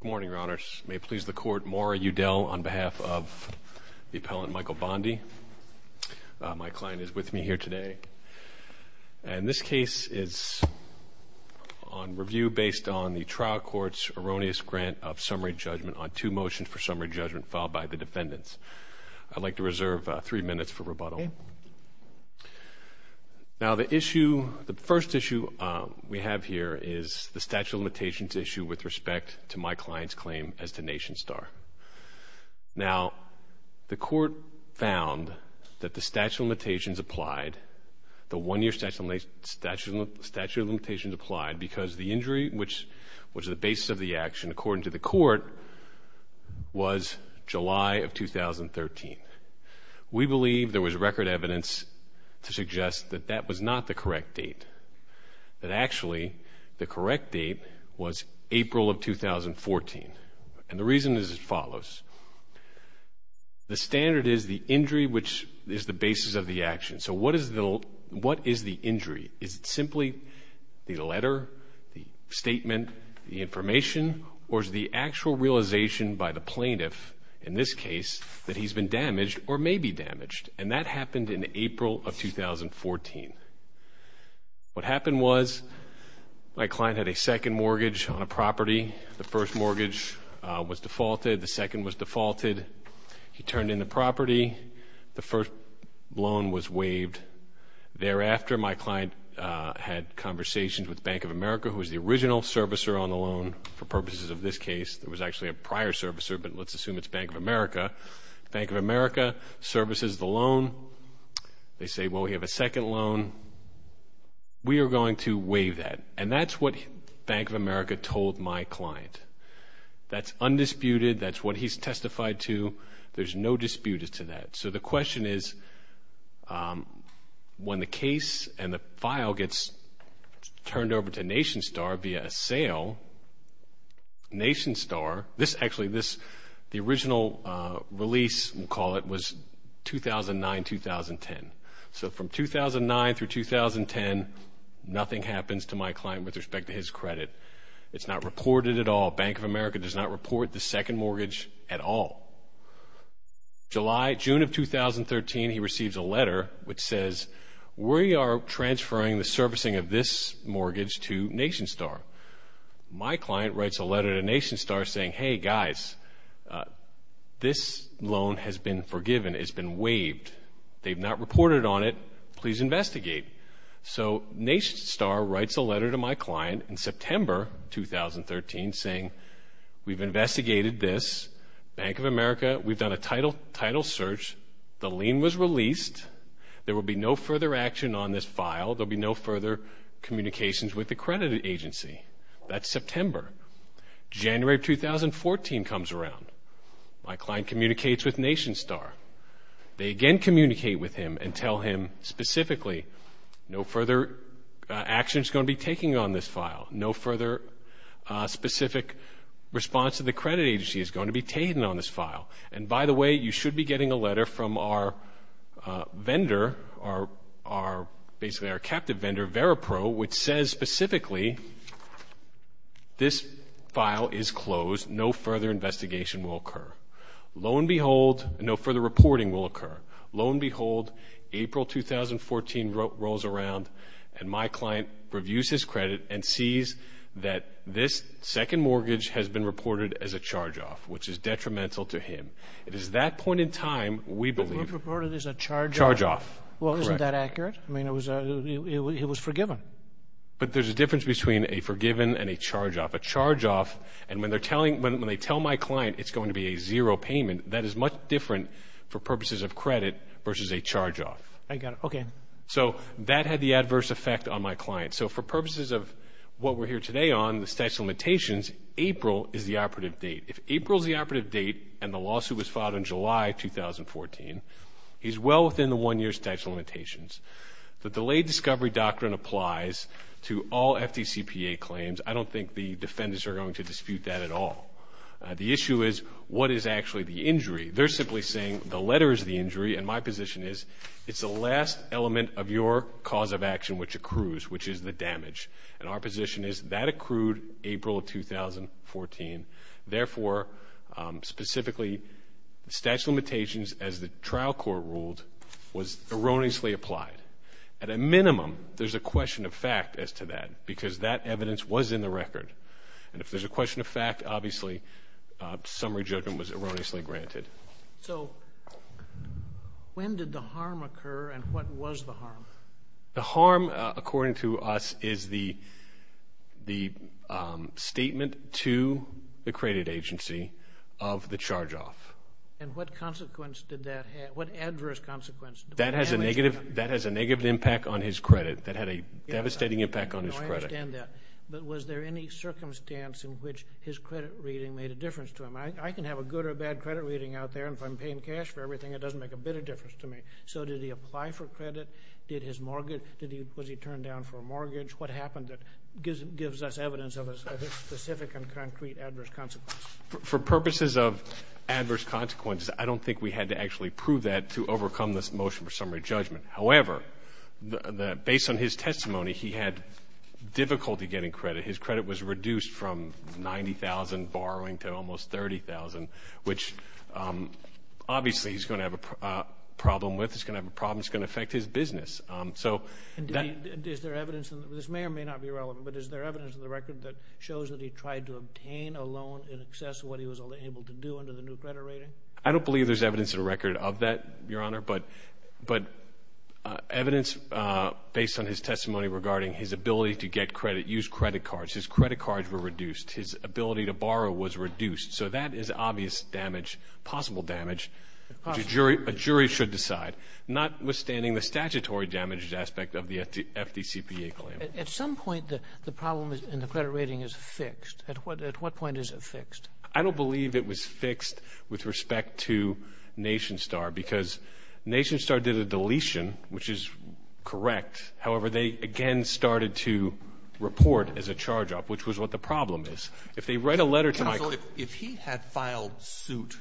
Good morning, Your Honors. May it please the Court, Maura Udell on behalf of the appellant Michael Bondi. My client is with me here today. And this case is on review based on the trial court's erroneous grant of summary judgment on two motions for summary judgment filed by the defendants. Now, the issue, the first issue we have here is the statute of limitations issue with respect to my client's claim as to NationStar. Now, the court found that the statute of limitations applied, the one-year statute of limitations applied because the injury, which was the basis of the action according to the court, was July of 2013. We believe there was record evidence to suggest that that was not the correct date, that actually the correct date was April of 2014. And the reason is as follows. The standard is the injury, which is the basis of the action. So what is the injury? Or is the actual realization by the plaintiff in this case that he's been damaged or may be damaged? And that happened in April of 2014. What happened was my client had a second mortgage on a property. The first mortgage was defaulted. The second was defaulted. The first loan was waived. Thereafter, my client had conversations with Bank of America, who was the original servicer on the loan for purposes of this case. There was actually a prior servicer, but let's assume it's Bank of America. Bank of America services the loan. They say, well, we have a second loan. We are going to waive that. And that's what Bank of America told my client. That's undisputed. That's what he's testified to. There's no dispute to that. So the question is, when the case and the file gets turned over to NationStar via a sale, NationStar, this actually, the original release, we'll call it, was 2009-2010. So from 2009 through 2010, nothing happens to my client with respect to his credit. It's not reported at all. Bank of America does not report the second mortgage at all. July, June of 2013, he receives a letter which says, we are transferring the servicing of this mortgage to NationStar. My client writes a letter to NationStar saying, hey, guys, this loan has been forgiven. It's been waived. They've not reported on it. Please investigate. So NationStar writes a letter to my client in September 2013 saying, we've investigated this. Bank of America, we've done a title search. The lien was released. There will be no further action on this file. There will be no further communications with the credit agency. That's September. January of 2014 comes around. My client communicates with NationStar. They again communicate with him and tell him specifically, no further action is going to be taken on this file. No further specific response to the credit agency is going to be taken on this file. And by the way, you should be getting a letter from our vendor, basically our captive vendor, Veripro, which says specifically, this file is closed. No further investigation will occur. Lo and behold, April 2014 rolls around and my client reviews his credit and sees that this second mortgage has been reported as a charge-off, which is detrimental to him. It is that point in time we believe. It was reported as a charge-off. Charge-off. Well, isn't that accurate? I mean, it was forgiven. But there's a difference between a forgiven and a charge-off. A charge-off, and when they tell my client it's going to be a zero payment, that is much different for purposes of credit versus a charge-off. I got it. Okay. So that had the adverse effect on my client. So for purposes of what we're here today on, the statute of limitations, April is the operative date. If April is the operative date and the lawsuit was filed in July 2014, he's well within the one-year statute of limitations. The delayed discovery doctrine applies to all FDCPA claims. I don't think the defendants are going to dispute that at all. The issue is what is actually the injury. They're simply saying the letter is the injury, and my position is it's the last element of your cause of action which accrues, which is the damage. And our position is that accrued April of 2014. Therefore, specifically, the statute of limitations, as the trial court ruled, was erroneously applied. At a minimum, there's a question of fact as to that because that evidence was in the record. And if there's a question of fact, obviously, summary judgment was erroneously granted. So when did the harm occur, and what was the harm? The harm, according to us, is the statement to the credit agency of the charge-off. And what consequence did that have? What adverse consequence? That has a negative impact on his credit. That had a devastating impact on his credit. I understand that. But was there any circumstance in which his credit reading made a difference to him? I can have a good or bad credit reading out there, and if I'm paying cash for everything, it doesn't make a bit of difference to me. So did he apply for credit? Did his mortgage, was he turned down for a mortgage? What happened that gives us evidence of a specific and concrete adverse consequence? For purposes of adverse consequences, I don't think we had to actually prove that to overcome this motion for summary judgment. However, based on his testimony, he had difficulty getting credit. His credit was reduced from $90,000 borrowing to almost $30,000, which obviously he's going to have a problem with. It's going to have a problem that's going to affect his business. And is there evidence, and this may or may not be relevant, but is there evidence in the record that shows that he tried to obtain a loan in excess of what he was able to do under the new credit rating? I don't believe there's evidence in the record of that, Your Honor. But evidence based on his testimony regarding his ability to get credit, use credit cards. His credit cards were reduced. His ability to borrow was reduced. So that is obvious damage, possible damage. A jury should decide, notwithstanding the statutory damaged aspect of the FDCPA claim. At some point, the problem in the credit rating is fixed. At what point is it fixed? I don't believe it was fixed with respect to NationStar because NationStar did a deletion, which is correct. However, they again started to report as a charge-off, which was what the problem is. If they write a letter to Michael ---- So if he had filed suit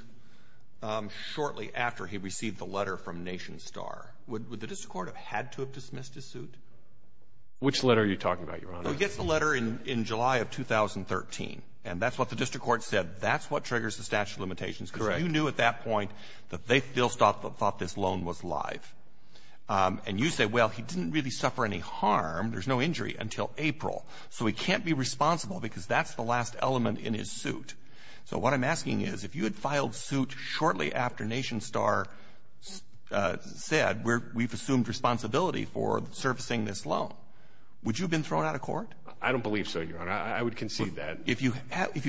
shortly after he received the letter from NationStar, would the district court have had to have dismissed his suit? Which letter are you talking about, Your Honor? Well, he gets the letter in July of 2013. And that's what the district court said. That's what triggers the statute of limitations. Correct. So you knew at that point that they still thought this loan was live. And you say, well, he didn't really suffer any harm. There's no injury until April. So he can't be responsible because that's the last element in his suit. So what I'm asking is, if you had filed suit shortly after NationStar said, we've assumed responsibility for servicing this loan, would you have been thrown out of court? I don't believe so, Your Honor. I would concede that. If you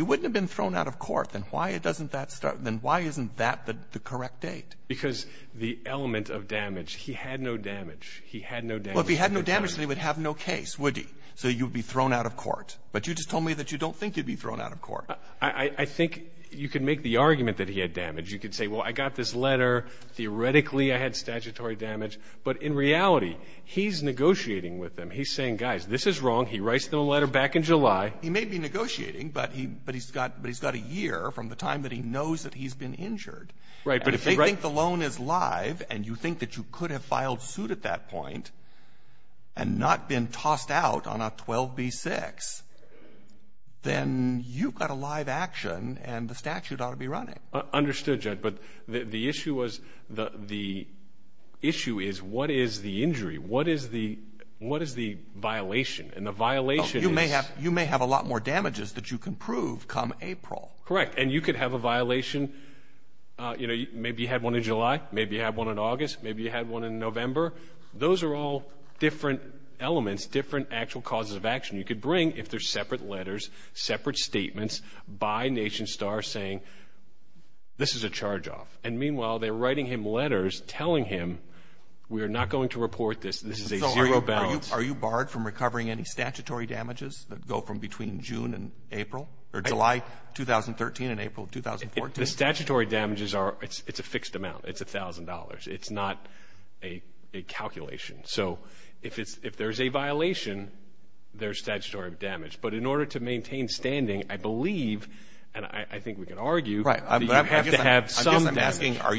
wouldn't have been thrown out of court, then why doesn't that start ---- then why isn't that the correct date? Because the element of damage. He had no damage. He had no damage. Well, if he had no damage, then he would have no case, would he? So you would be thrown out of court. But you just told me that you don't think you'd be thrown out of court. I think you could make the argument that he had damage. You could say, well, I got this letter. Theoretically, I had statutory damage. But in reality, he's negotiating with them. He's saying, guys, this is wrong. He writes the letter back in July. He may be negotiating, but he's got a year from the time that he knows that he's been injured. Right. But if they think the loan is live and you think that you could have filed suit at that point and not been tossed out on a 12b-6, then you've got a live action and the statute ought to be running. Understood, Judge. But the issue was the issue is what is the injury? What is the violation? And the violation is ---- Right. You may have a lot more damages that you can prove come April. Correct. And you could have a violation. Maybe you had one in July. Maybe you had one in August. Maybe you had one in November. Those are all different elements, different actual causes of action. You could bring, if they're separate letters, separate statements by Nation Star saying, this is a charge-off. And meanwhile, they're writing him letters telling him, we are not going to report this. This is a zero balance. Are you barred from recovering any statutory damages that go from between June and April or July 2013 and April 2014? The statutory damages are a fixed amount. It's $1,000. It's not a calculation. So if there's a violation, there's statutory damage. But in order to maintain standing, I believe, and I think we can argue, you have to have some damage. I'm asking, are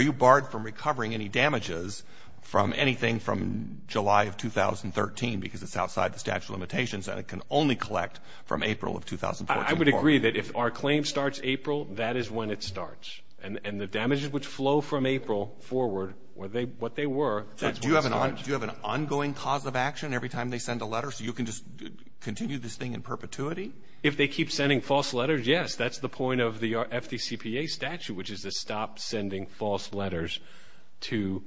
you barred from recovering any damages from anything from July of 2013 because it's outside the statute of limitations and it can only collect from April of 2014? I would agree that if our claim starts April, that is when it starts. And the damages which flow from April forward, what they were, that's when it starts. Do you have an ongoing cause of action every time they send a letter so you can just continue this thing in perpetuity? If they keep sending false letters, yes, that's the point of the FDCPA statute, which is to stop sending false letters to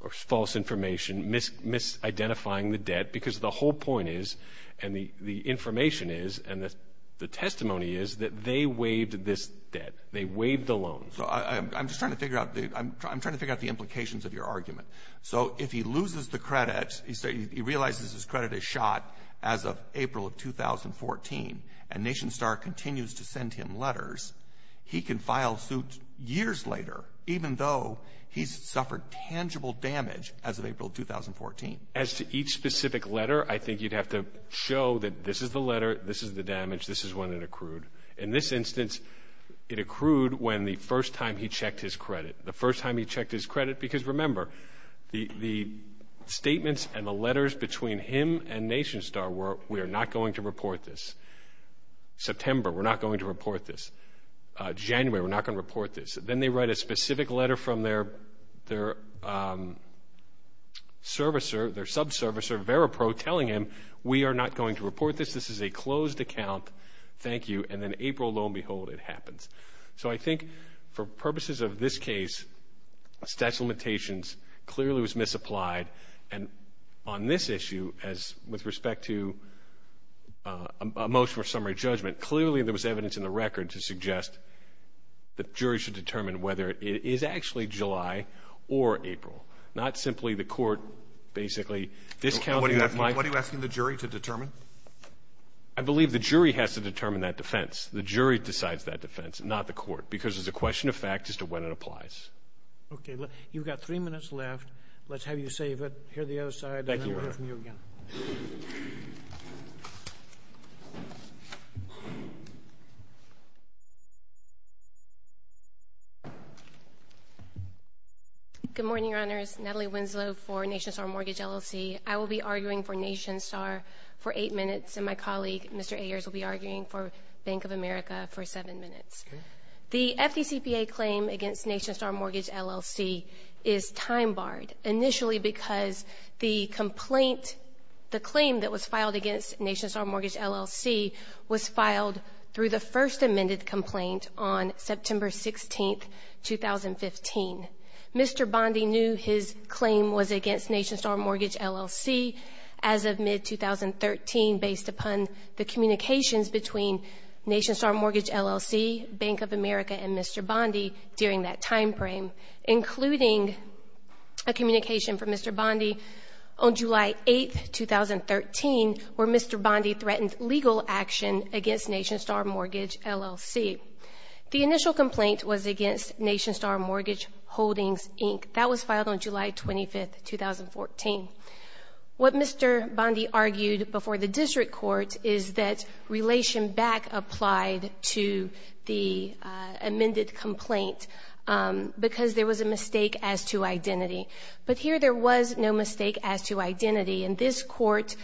or false information, misidentifying the debt, because the whole point is and the information is and the testimony is that they waived this debt. They waived the loan. So I'm just trying to figure out the implications of your argument. So if he loses the credit, he realizes his credit is shot as of April of 2014, and NationStar continues to send him letters, he can file suit years later, even though he's suffered tangible damage as of April of 2014. As to each specific letter, I think you'd have to show that this is the letter, this is the damage, this is when it accrued. In this instance, it accrued when the first time he checked his credit. The first time he checked his credit, because remember, the statements and the letters between him and NationStar were, we are not going to report this. September, we're not going to report this. January, we're not going to report this. Then they write a specific letter from their servicer, their subservicer, VeraPro, telling him, we are not going to report this, this is a closed account, thank you, and then April, lo and behold, it happens. So I think for purposes of this case, statute of limitations clearly was misapplied, and on this issue, with respect to a motion for summary judgment, clearly there was evidence in the record to suggest the jury should determine whether it is actually July or April, not simply the court basically discounting. What are you asking the jury to determine? I believe the jury has to determine that defense. The jury decides that defense, not the court, because it's a question of fact as to when it applies. Okay. You've got three minutes left. Let's have you save it here on the other side, and then we'll hear from you again. Thank you, Your Honor. Good morning, Your Honors. Natalie Winslow for NationStar Mortgage LLC. I will be arguing for NationStar for eight minutes, and my colleague, Mr. Ayers, will be arguing for Bank of America for seven minutes. The FDCPA claim against NationStar Mortgage LLC is time-barred, initially because the complaint, the claim that was filed against NationStar Mortgage LLC, was filed through the first amended complaint on September 16, 2015. Mr. Bondi knew his claim was against NationStar Mortgage LLC as of mid-2013, based upon the communications between NationStar Mortgage LLC, Bank of America, and Mr. Bondi during that time frame, including a communication from Mr. Bondi on July 8, 2013, where Mr. Bondi threatened legal action against NationStar Mortgage LLC. The initial complaint was against NationStar Mortgage Holdings, Inc. That was filed on July 25, 2014. What Mr. Bondi argued before the district court is that relation back applied to the amended complaint because there was a mistake as to identity. But here there was no mistake as to identity, and this court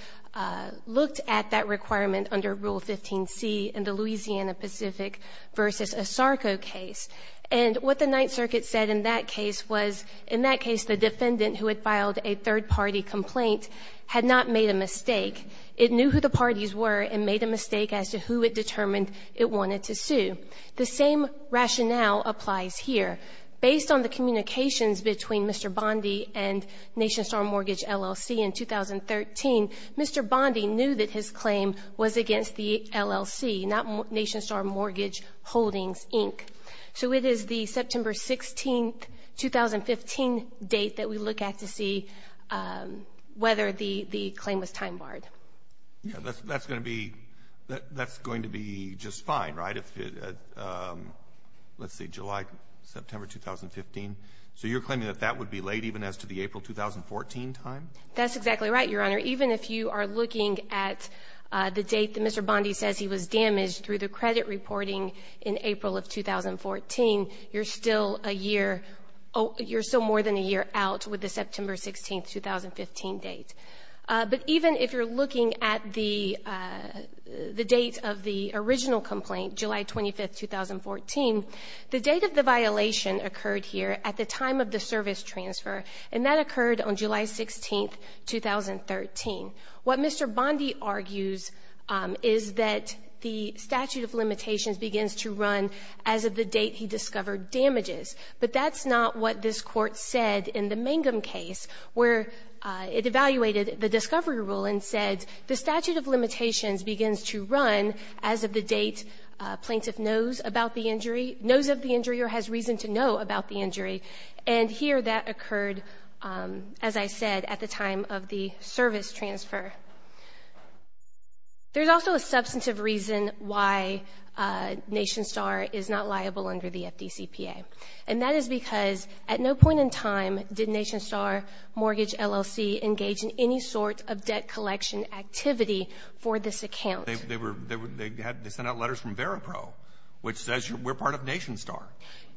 looked at that requirement under Rule 15C in the Louisiana Pacific v. Asarco case. And what the Ninth Circuit said in that case was, in that case the defendant who had filed a third-party complaint had not made a mistake. It knew who the parties were and made a mistake as to who it determined it wanted to sue. The same rationale applies here. Based on the communications between Mr. Bondi and NationStar Mortgage LLC in 2013, Mr. Bondi knew that his claim was against the LLC, not NationStar Mortgage Holdings, Inc. So it is the September 16, 2015 date that we look at to see whether the claim was time barred. That's going to be just fine, right? Let's see, July, September 2015? So you're claiming that that would be late even as to the April 2014 time? That's exactly right, Your Honor. Even if you are looking at the date that Mr. Bondi says he was damaged through the credit reporting in April of 2014, you're still more than a year out with the September 16, 2015 date. But even if you're looking at the date of the original complaint, July 25, 2014, the date of the violation occurred here at the time of the service transfer, and that occurred on July 16, 2013. What Mr. Bondi argues is that the statute of limitations begins to run as of the date he discovered damages. But that's not what this Court said in the Mangum case, where it evaluated the discovery rule and said the statute of limitations begins to run as of the date plaintiff knows about the injury, knows of the injury or has reason to know about the injury. And here that occurred, as I said, at the time of the service transfer. There's also a substantive reason why NationStar is not liable under the FDCPA, and that is because at no point in time did NationStar Mortgage LLC engage in any sort of debt collection activity for this account. They were — they had — they sent out letters from Veripro, which says we're part of NationStar.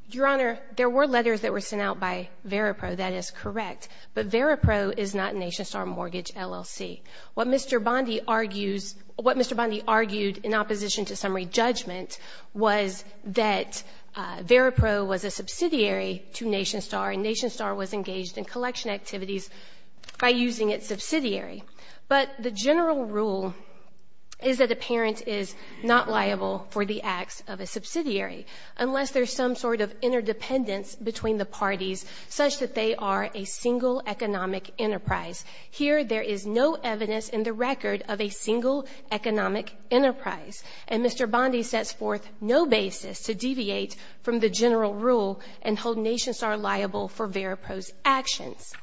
Your Honor, there were letters that were sent out by Veripro. That is correct. But Veripro is not NationStar Mortgage LLC. What Mr. Bondi argues — what Mr. Bondi argued in opposition to summary judgment was that Veripro was a subsidiary to NationStar and NationStar was engaged in collection activities by using its subsidiary. But the general rule is that a parent is not liable for the acts of a subsidiary unless there's some sort of interdependence between the parties such that they are a single economic enterprise. Here there is no evidence in the record of a single economic enterprise. And Mr. Bondi sets forth no basis to deviate from the general rule and hold NationStar liable for Veripro's actions.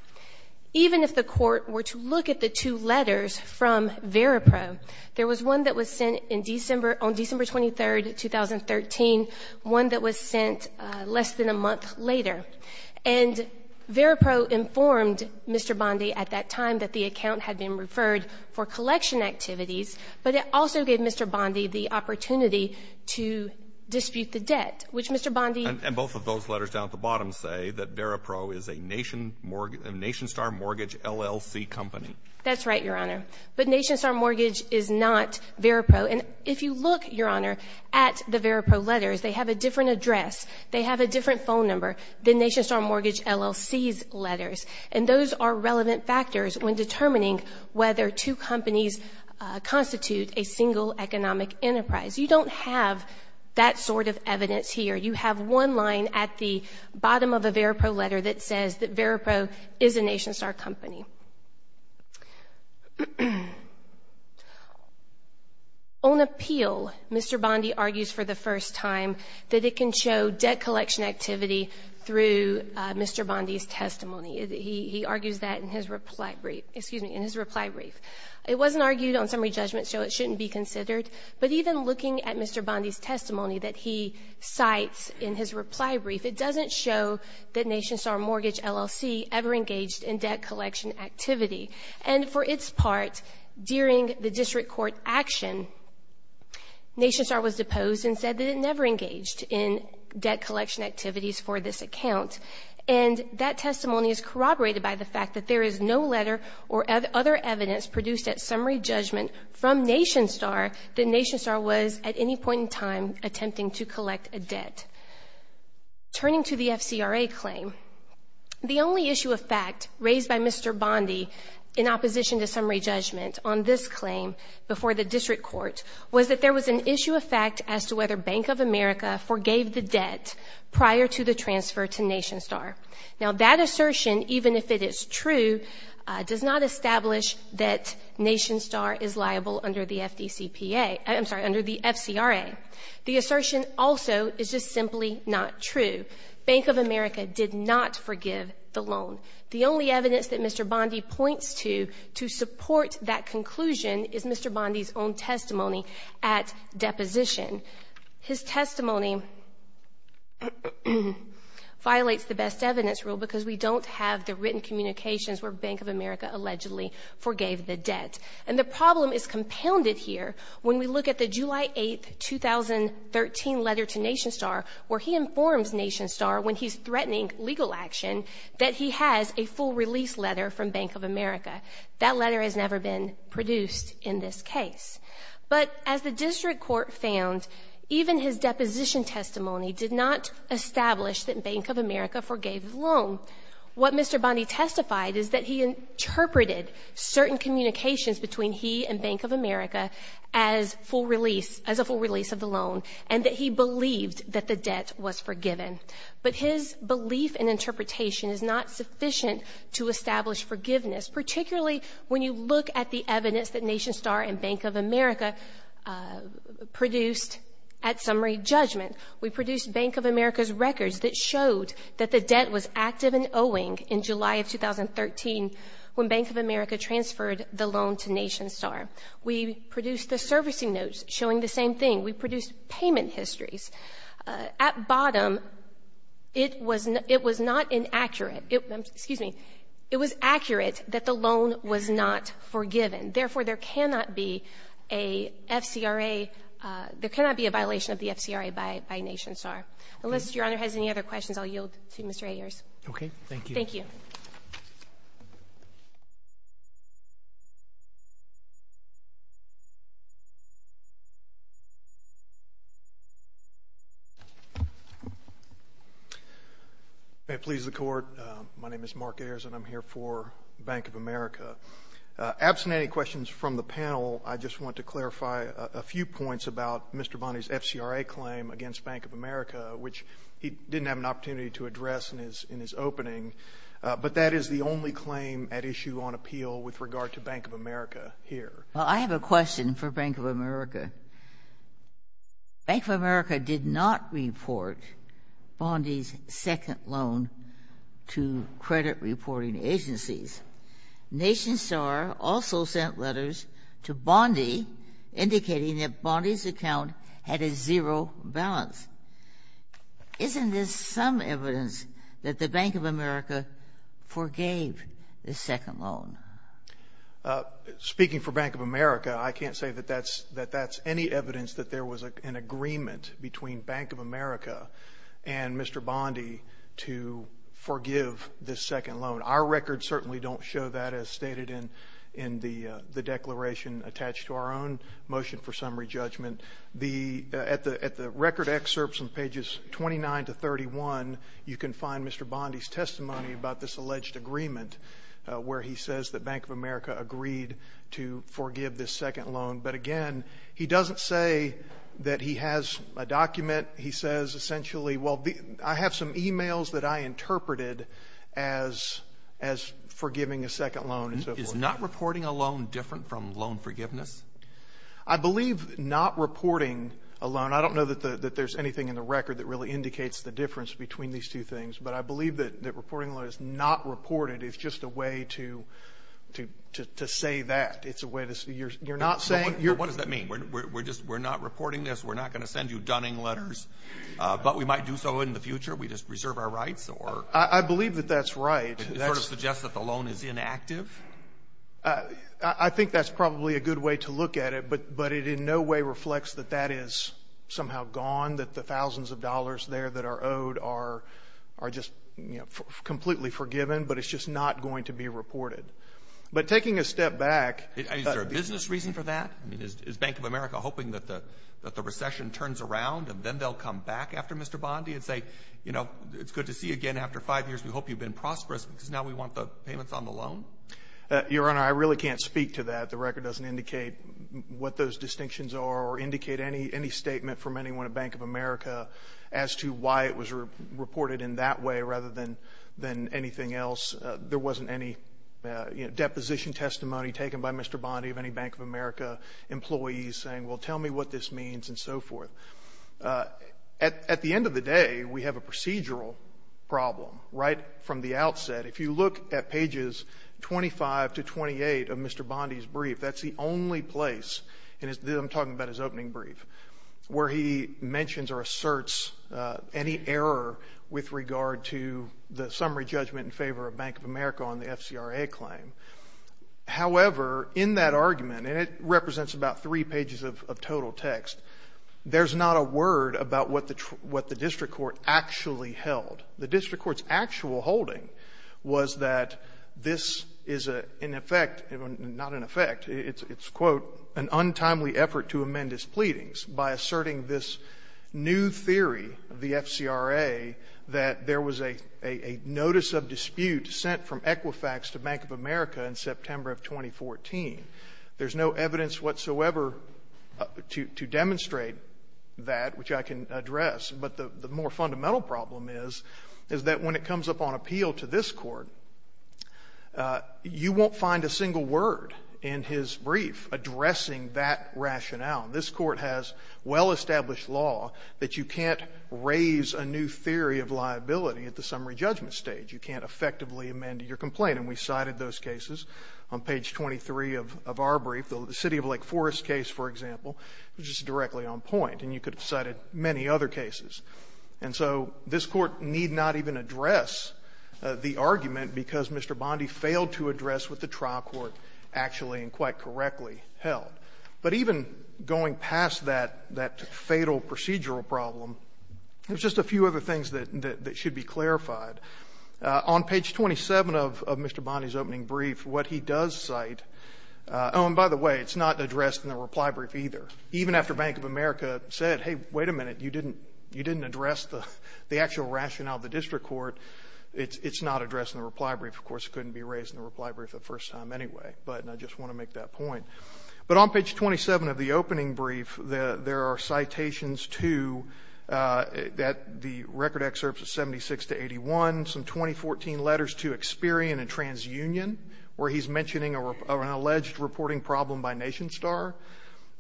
Even if the Court were to look at the two letters from Veripro, there was one that was sent in December — on December 23, 2013, one that was sent less than a month later. And Veripro informed Mr. Bondi at that time that the account had been referred for collection activities, but it also gave Mr. Bondi the opportunity to dispute the debt, which Mr. Bondi — And both of those letters down at the bottom say that Veripro is a NationStar Mortgage LLC company. That's right, Your Honor. But NationStar Mortgage is not Veripro. And if you look, Your Honor, at the Veripro letters, they have a different address, they have a different phone number than NationStar Mortgage LLC's letters. And those are relevant factors when determining whether two companies constitute a single economic enterprise. You don't have that sort of evidence here. You have one line at the bottom of a Veripro letter that says that Veripro is a NationStar company. On appeal, Mr. Bondi argues for the first time that it can show debt collection activity through Mr. Bondi's testimony. He argues that in his reply brief. It wasn't argued on summary judgment, so it shouldn't be considered. But even looking at Mr. Bondi's testimony that he cites in his reply brief, it doesn't show that NationStar Mortgage LLC ever engaged in debt collection activity. And for its part, during the district court action, NationStar was deposed and said that it never engaged in debt collection activities for this account. And that testimony is corroborated by the fact that there is no letter or other evidence produced at summary judgment from NationStar that NationStar was at any point in time attempting to collect a debt. Turning to the FCRA claim, the only issue of fact raised by Mr. Bondi in opposition to summary judgment on this claim before the district court was that there was an issue of fact as to whether Bank of America forgave the debt prior to the transfer to NationStar. Now, that assertion, even if it is true, does not establish that NationStar is liable under the FDCPA. I'm sorry, under the FCRA. The assertion also is just simply not true. Bank of America did not forgive the loan. The only evidence that Mr. Bondi points to to support that conclusion is Mr. Bondi's own testimony at deposition. His testimony violates the best evidence rule because we don't have the written communications where Bank of America allegedly forgave the debt. And the problem is compounded here when we look at the July 8, 2013 letter to NationStar where he informs NationStar when he's threatening legal action that he has a full release letter from Bank of America. That letter has never been produced in this case. But as the district court found, even his deposition testimony did not establish that Bank of America forgave the loan. What Mr. Bondi testified is that he interpreted certain communications between he and Bank of America as a full release of the loan and that he believed that the debt was forgiven. But his belief and interpretation is not sufficient to establish forgiveness, particularly when you look at the evidence that NationStar and Bank of America produced at summary judgment. We produced Bank of America's records that showed that the debt was active and owing in July of 2013 when Bank of America transferred the loan to NationStar. We produced the servicing notes showing the same thing. We produced payment histories. At bottom, it was not inaccurate. Excuse me. It was accurate that the loan was not forgiven. Therefore, there cannot be a FCRA — there cannot be a violation of the FCRA by NationStar. Unless Your Honor has any other questions, I'll yield to Mr. Ayers. Roberts. Thank you. Thank you. May it please the Court. My name is Mark Ayers, and I'm here for Bank of America. Absent any questions from the panel, I just want to clarify a few points about Mr. Bondi's FCRA claim against Bank of America, which he didn't have an opportunity to address in his opening. But that is the only claim at issue on appeal with regard to Bank of America here. Well, I have a question for Bank of America. Bank of America did not report Bondi's second loan to credit reporting agencies. NationStar also sent letters to Bondi indicating that Bondi's account had a zero balance. Isn't this some evidence that the Bank of America forgave the second loan? Speaking for Bank of America, I can't say that that's any evidence that there was an agreement between Bank of America and Mr. Bondi to forgive this second loan. Our records certainly don't show that as stated in the declaration attached to our own motion for summary judgment. At the record excerpts on pages 29 to 31, you can find Mr. Bondi's testimony about this that Bank of America agreed to forgive this second loan. But, again, he doesn't say that he has a document. He says essentially, well, I have some e-mails that I interpreted as forgiving a second loan. Is not reporting a loan different from loan forgiveness? I believe not reporting a loan, I don't know that there's anything in the record that really indicates the difference between these two things, but I believe that reporting a loan as not reported is just a way to say that. What does that mean? We're not reporting this, we're not going to send you dunning letters, but we might do so in the future? We just reserve our rights? I believe that that's right. That sort of suggests that the loan is inactive? I think that's probably a good way to look at it, but it in no way reflects that that is somehow gone, that the thousands of dollars there that are owed are just, you know, completely forgiven, but it's just not going to be reported. But taking a step back. Is there a business reason for that? I mean, is Bank of America hoping that the recession turns around and then they'll come back after Mr. Bondi and say, you know, it's good to see you again after five years, we hope you've been prosperous because now we want the payments on the loan? Your Honor, I really can't speak to that. The record doesn't indicate what those distinctions are or indicate any statement from anyone at Bank of America as to why it was reported in that way rather than anything else. There wasn't any deposition testimony taken by Mr. Bondi of any Bank of America employees saying, well, tell me what this means and so forth. At the end of the day, we have a procedural problem, right, from the outset. If you look at pages 25 to 28 of Mr. Bondi's brief, that's the only place, and I'm talking about his opening brief, where he mentions or asserts any error with regard to the summary judgment in favor of Bank of America on the FCRA claim. However, in that argument, and it represents about three pages of total text, there's not a word about what the district court actually held. The district court's actual holding was that this is an effect, not an effect, it's a, quote, an untimely effort to amend its pleadings by asserting this new theory of the FCRA that there was a notice of dispute sent from Equifax to Bank of America in September of 2014. There's no evidence whatsoever to demonstrate that, which I can address. But the more fundamental problem is, is that when it comes up on appeal to this Court, you won't find a single word in his brief addressing that rationale. This Court has well-established law that you can't raise a new theory of liability at the summary judgment stage. You can't effectively amend your complaint. And we cited those cases. On page 23 of our brief, the City of Lake Forest case, for example, was just directly on point, and you could have cited many other cases. And so this Court need not even address the argument because Mr. Bondi failed to address what the trial court actually and quite correctly held. But even going past that fatal procedural problem, there's just a few other things that should be clarified. On page 27 of Mr. Bondi's opening brief, what he does cite — oh, and by the way, it's not addressed in the reply brief either. Even after Bank of America said, hey, wait a minute, you didn't address the actual rationale of the district court, it's not addressed in the reply brief. Of course, it couldn't be raised in the reply brief the first time anyway, but I just want to make that point. But on page 27 of the opening brief, there are citations to the record excerpts of 76 to 81, some 2014 letters to Experian and TransUnion, where he's mentioning an alleged reporting problem by NationStar,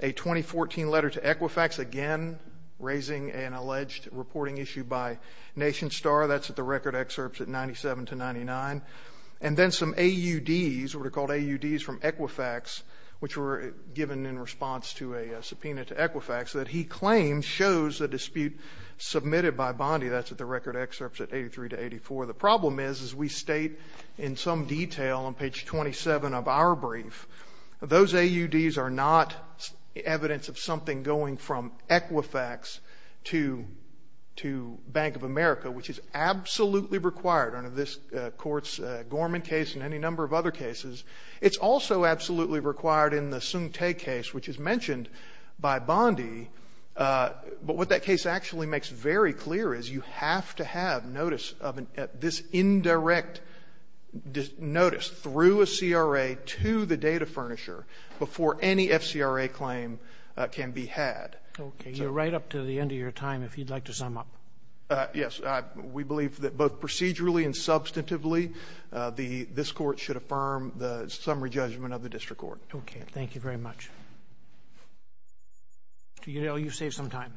a 2014 letter to Equifax, again raising an alleged reporting issue by NationStar. That's at the record excerpts at 97 to 99. And then some AUDs, what are called AUDs from Equifax, which were given in response to a subpoena to Equifax, that he claims shows the dispute submitted by Bondi. That's at the record excerpts at 83 to 84. The problem is, as we state in some detail on page 27 of our brief, those AUDs are not evidence of something going from Equifax to Bank of America, which is absolutely required under this Court's Gorman case and any number of other cases. It's also absolutely required in the Sung Tae case, which is mentioned by Bondi. But what that case actually makes very clear is you have to have notice of this indirect notice through a CRA to the data furnisher before any FCRA claim can be had. Okay. You're right up to the end of your time, if you'd like to sum up. Yes. We believe that both procedurally and substantively, this Court should affirm the summary judgment of the district court. Okay. Thank you very much. Do you know, you saved some time.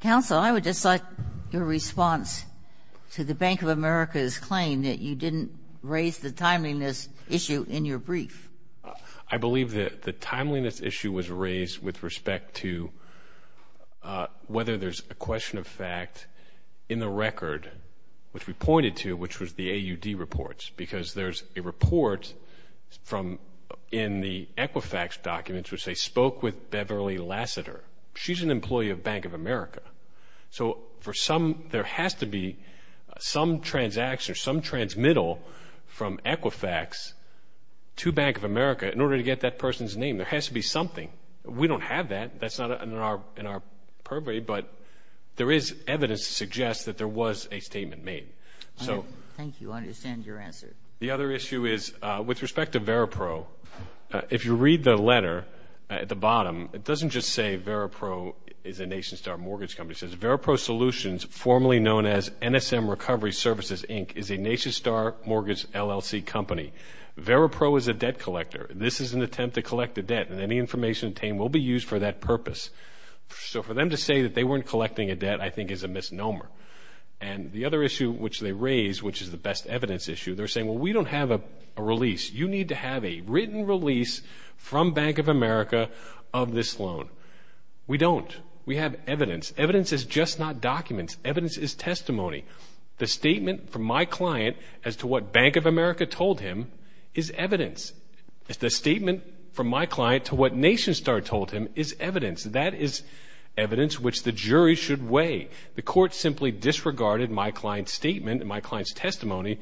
Counsel, I would just like your response to the Bank of America's claim that you didn't raise the timeliness issue in your brief. I believe that the timeliness issue was raised with respect to whether there's a question of fact in the record, which we pointed to, which was the AUD reports. Because there's a report in the Equifax documents which say, spoke with Beverly Lassiter. She's an employee of Bank of America. So there has to be some transaction or some transmittal from Equifax to Bank of America in order to get that person's name. There has to be something. We don't have that. That's not in our purview, but there is evidence to suggest that there was a statement made. Thank you. I understand your answer. The other issue is, with respect to Veripro, if you read the letter at the bottom, it doesn't just say Veripro is a NationStar Mortgage Company. It says, Veripro Solutions, formerly known as NSM Recovery Services, Inc., is a NationStar Mortgage LLC company. Veripro is a debt collector. This is an attempt to collect a debt, and any information obtained will be used for that purpose. So for them to say that they weren't collecting a debt, I think, is a misnomer. And the other issue which they raise, which is the best evidence issue, they're saying, well, we don't have a release. You need to have a written release from Bank of America of this loan. We don't. We have evidence. Evidence is just not documents. Evidence is testimony. The statement from my client as to what Bank of America told him is evidence. The statement from my client to what NationStar told him is evidence. That is evidence which the jury should weigh. The court simply disregarded my client's statement and my client's testimony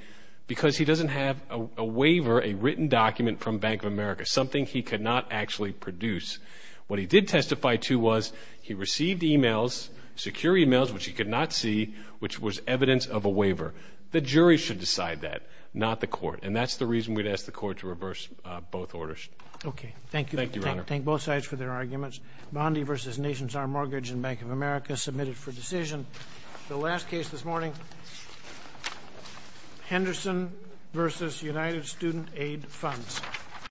because he doesn't have a waiver, a written document from Bank of America, something he could not actually produce. What he did testify to was he received emails, secure emails, which he could not see, which was evidence of a waiver. The jury should decide that, not the court. And that's the reason we'd ask the court to reverse both orders. Thank you. Thank you, Your Honor. Thank both sides for their arguments. Bondi v. NationStar Mortgage and Bank of America submitted for decision. The last case this morning, Henderson v. United Student Aid Funds.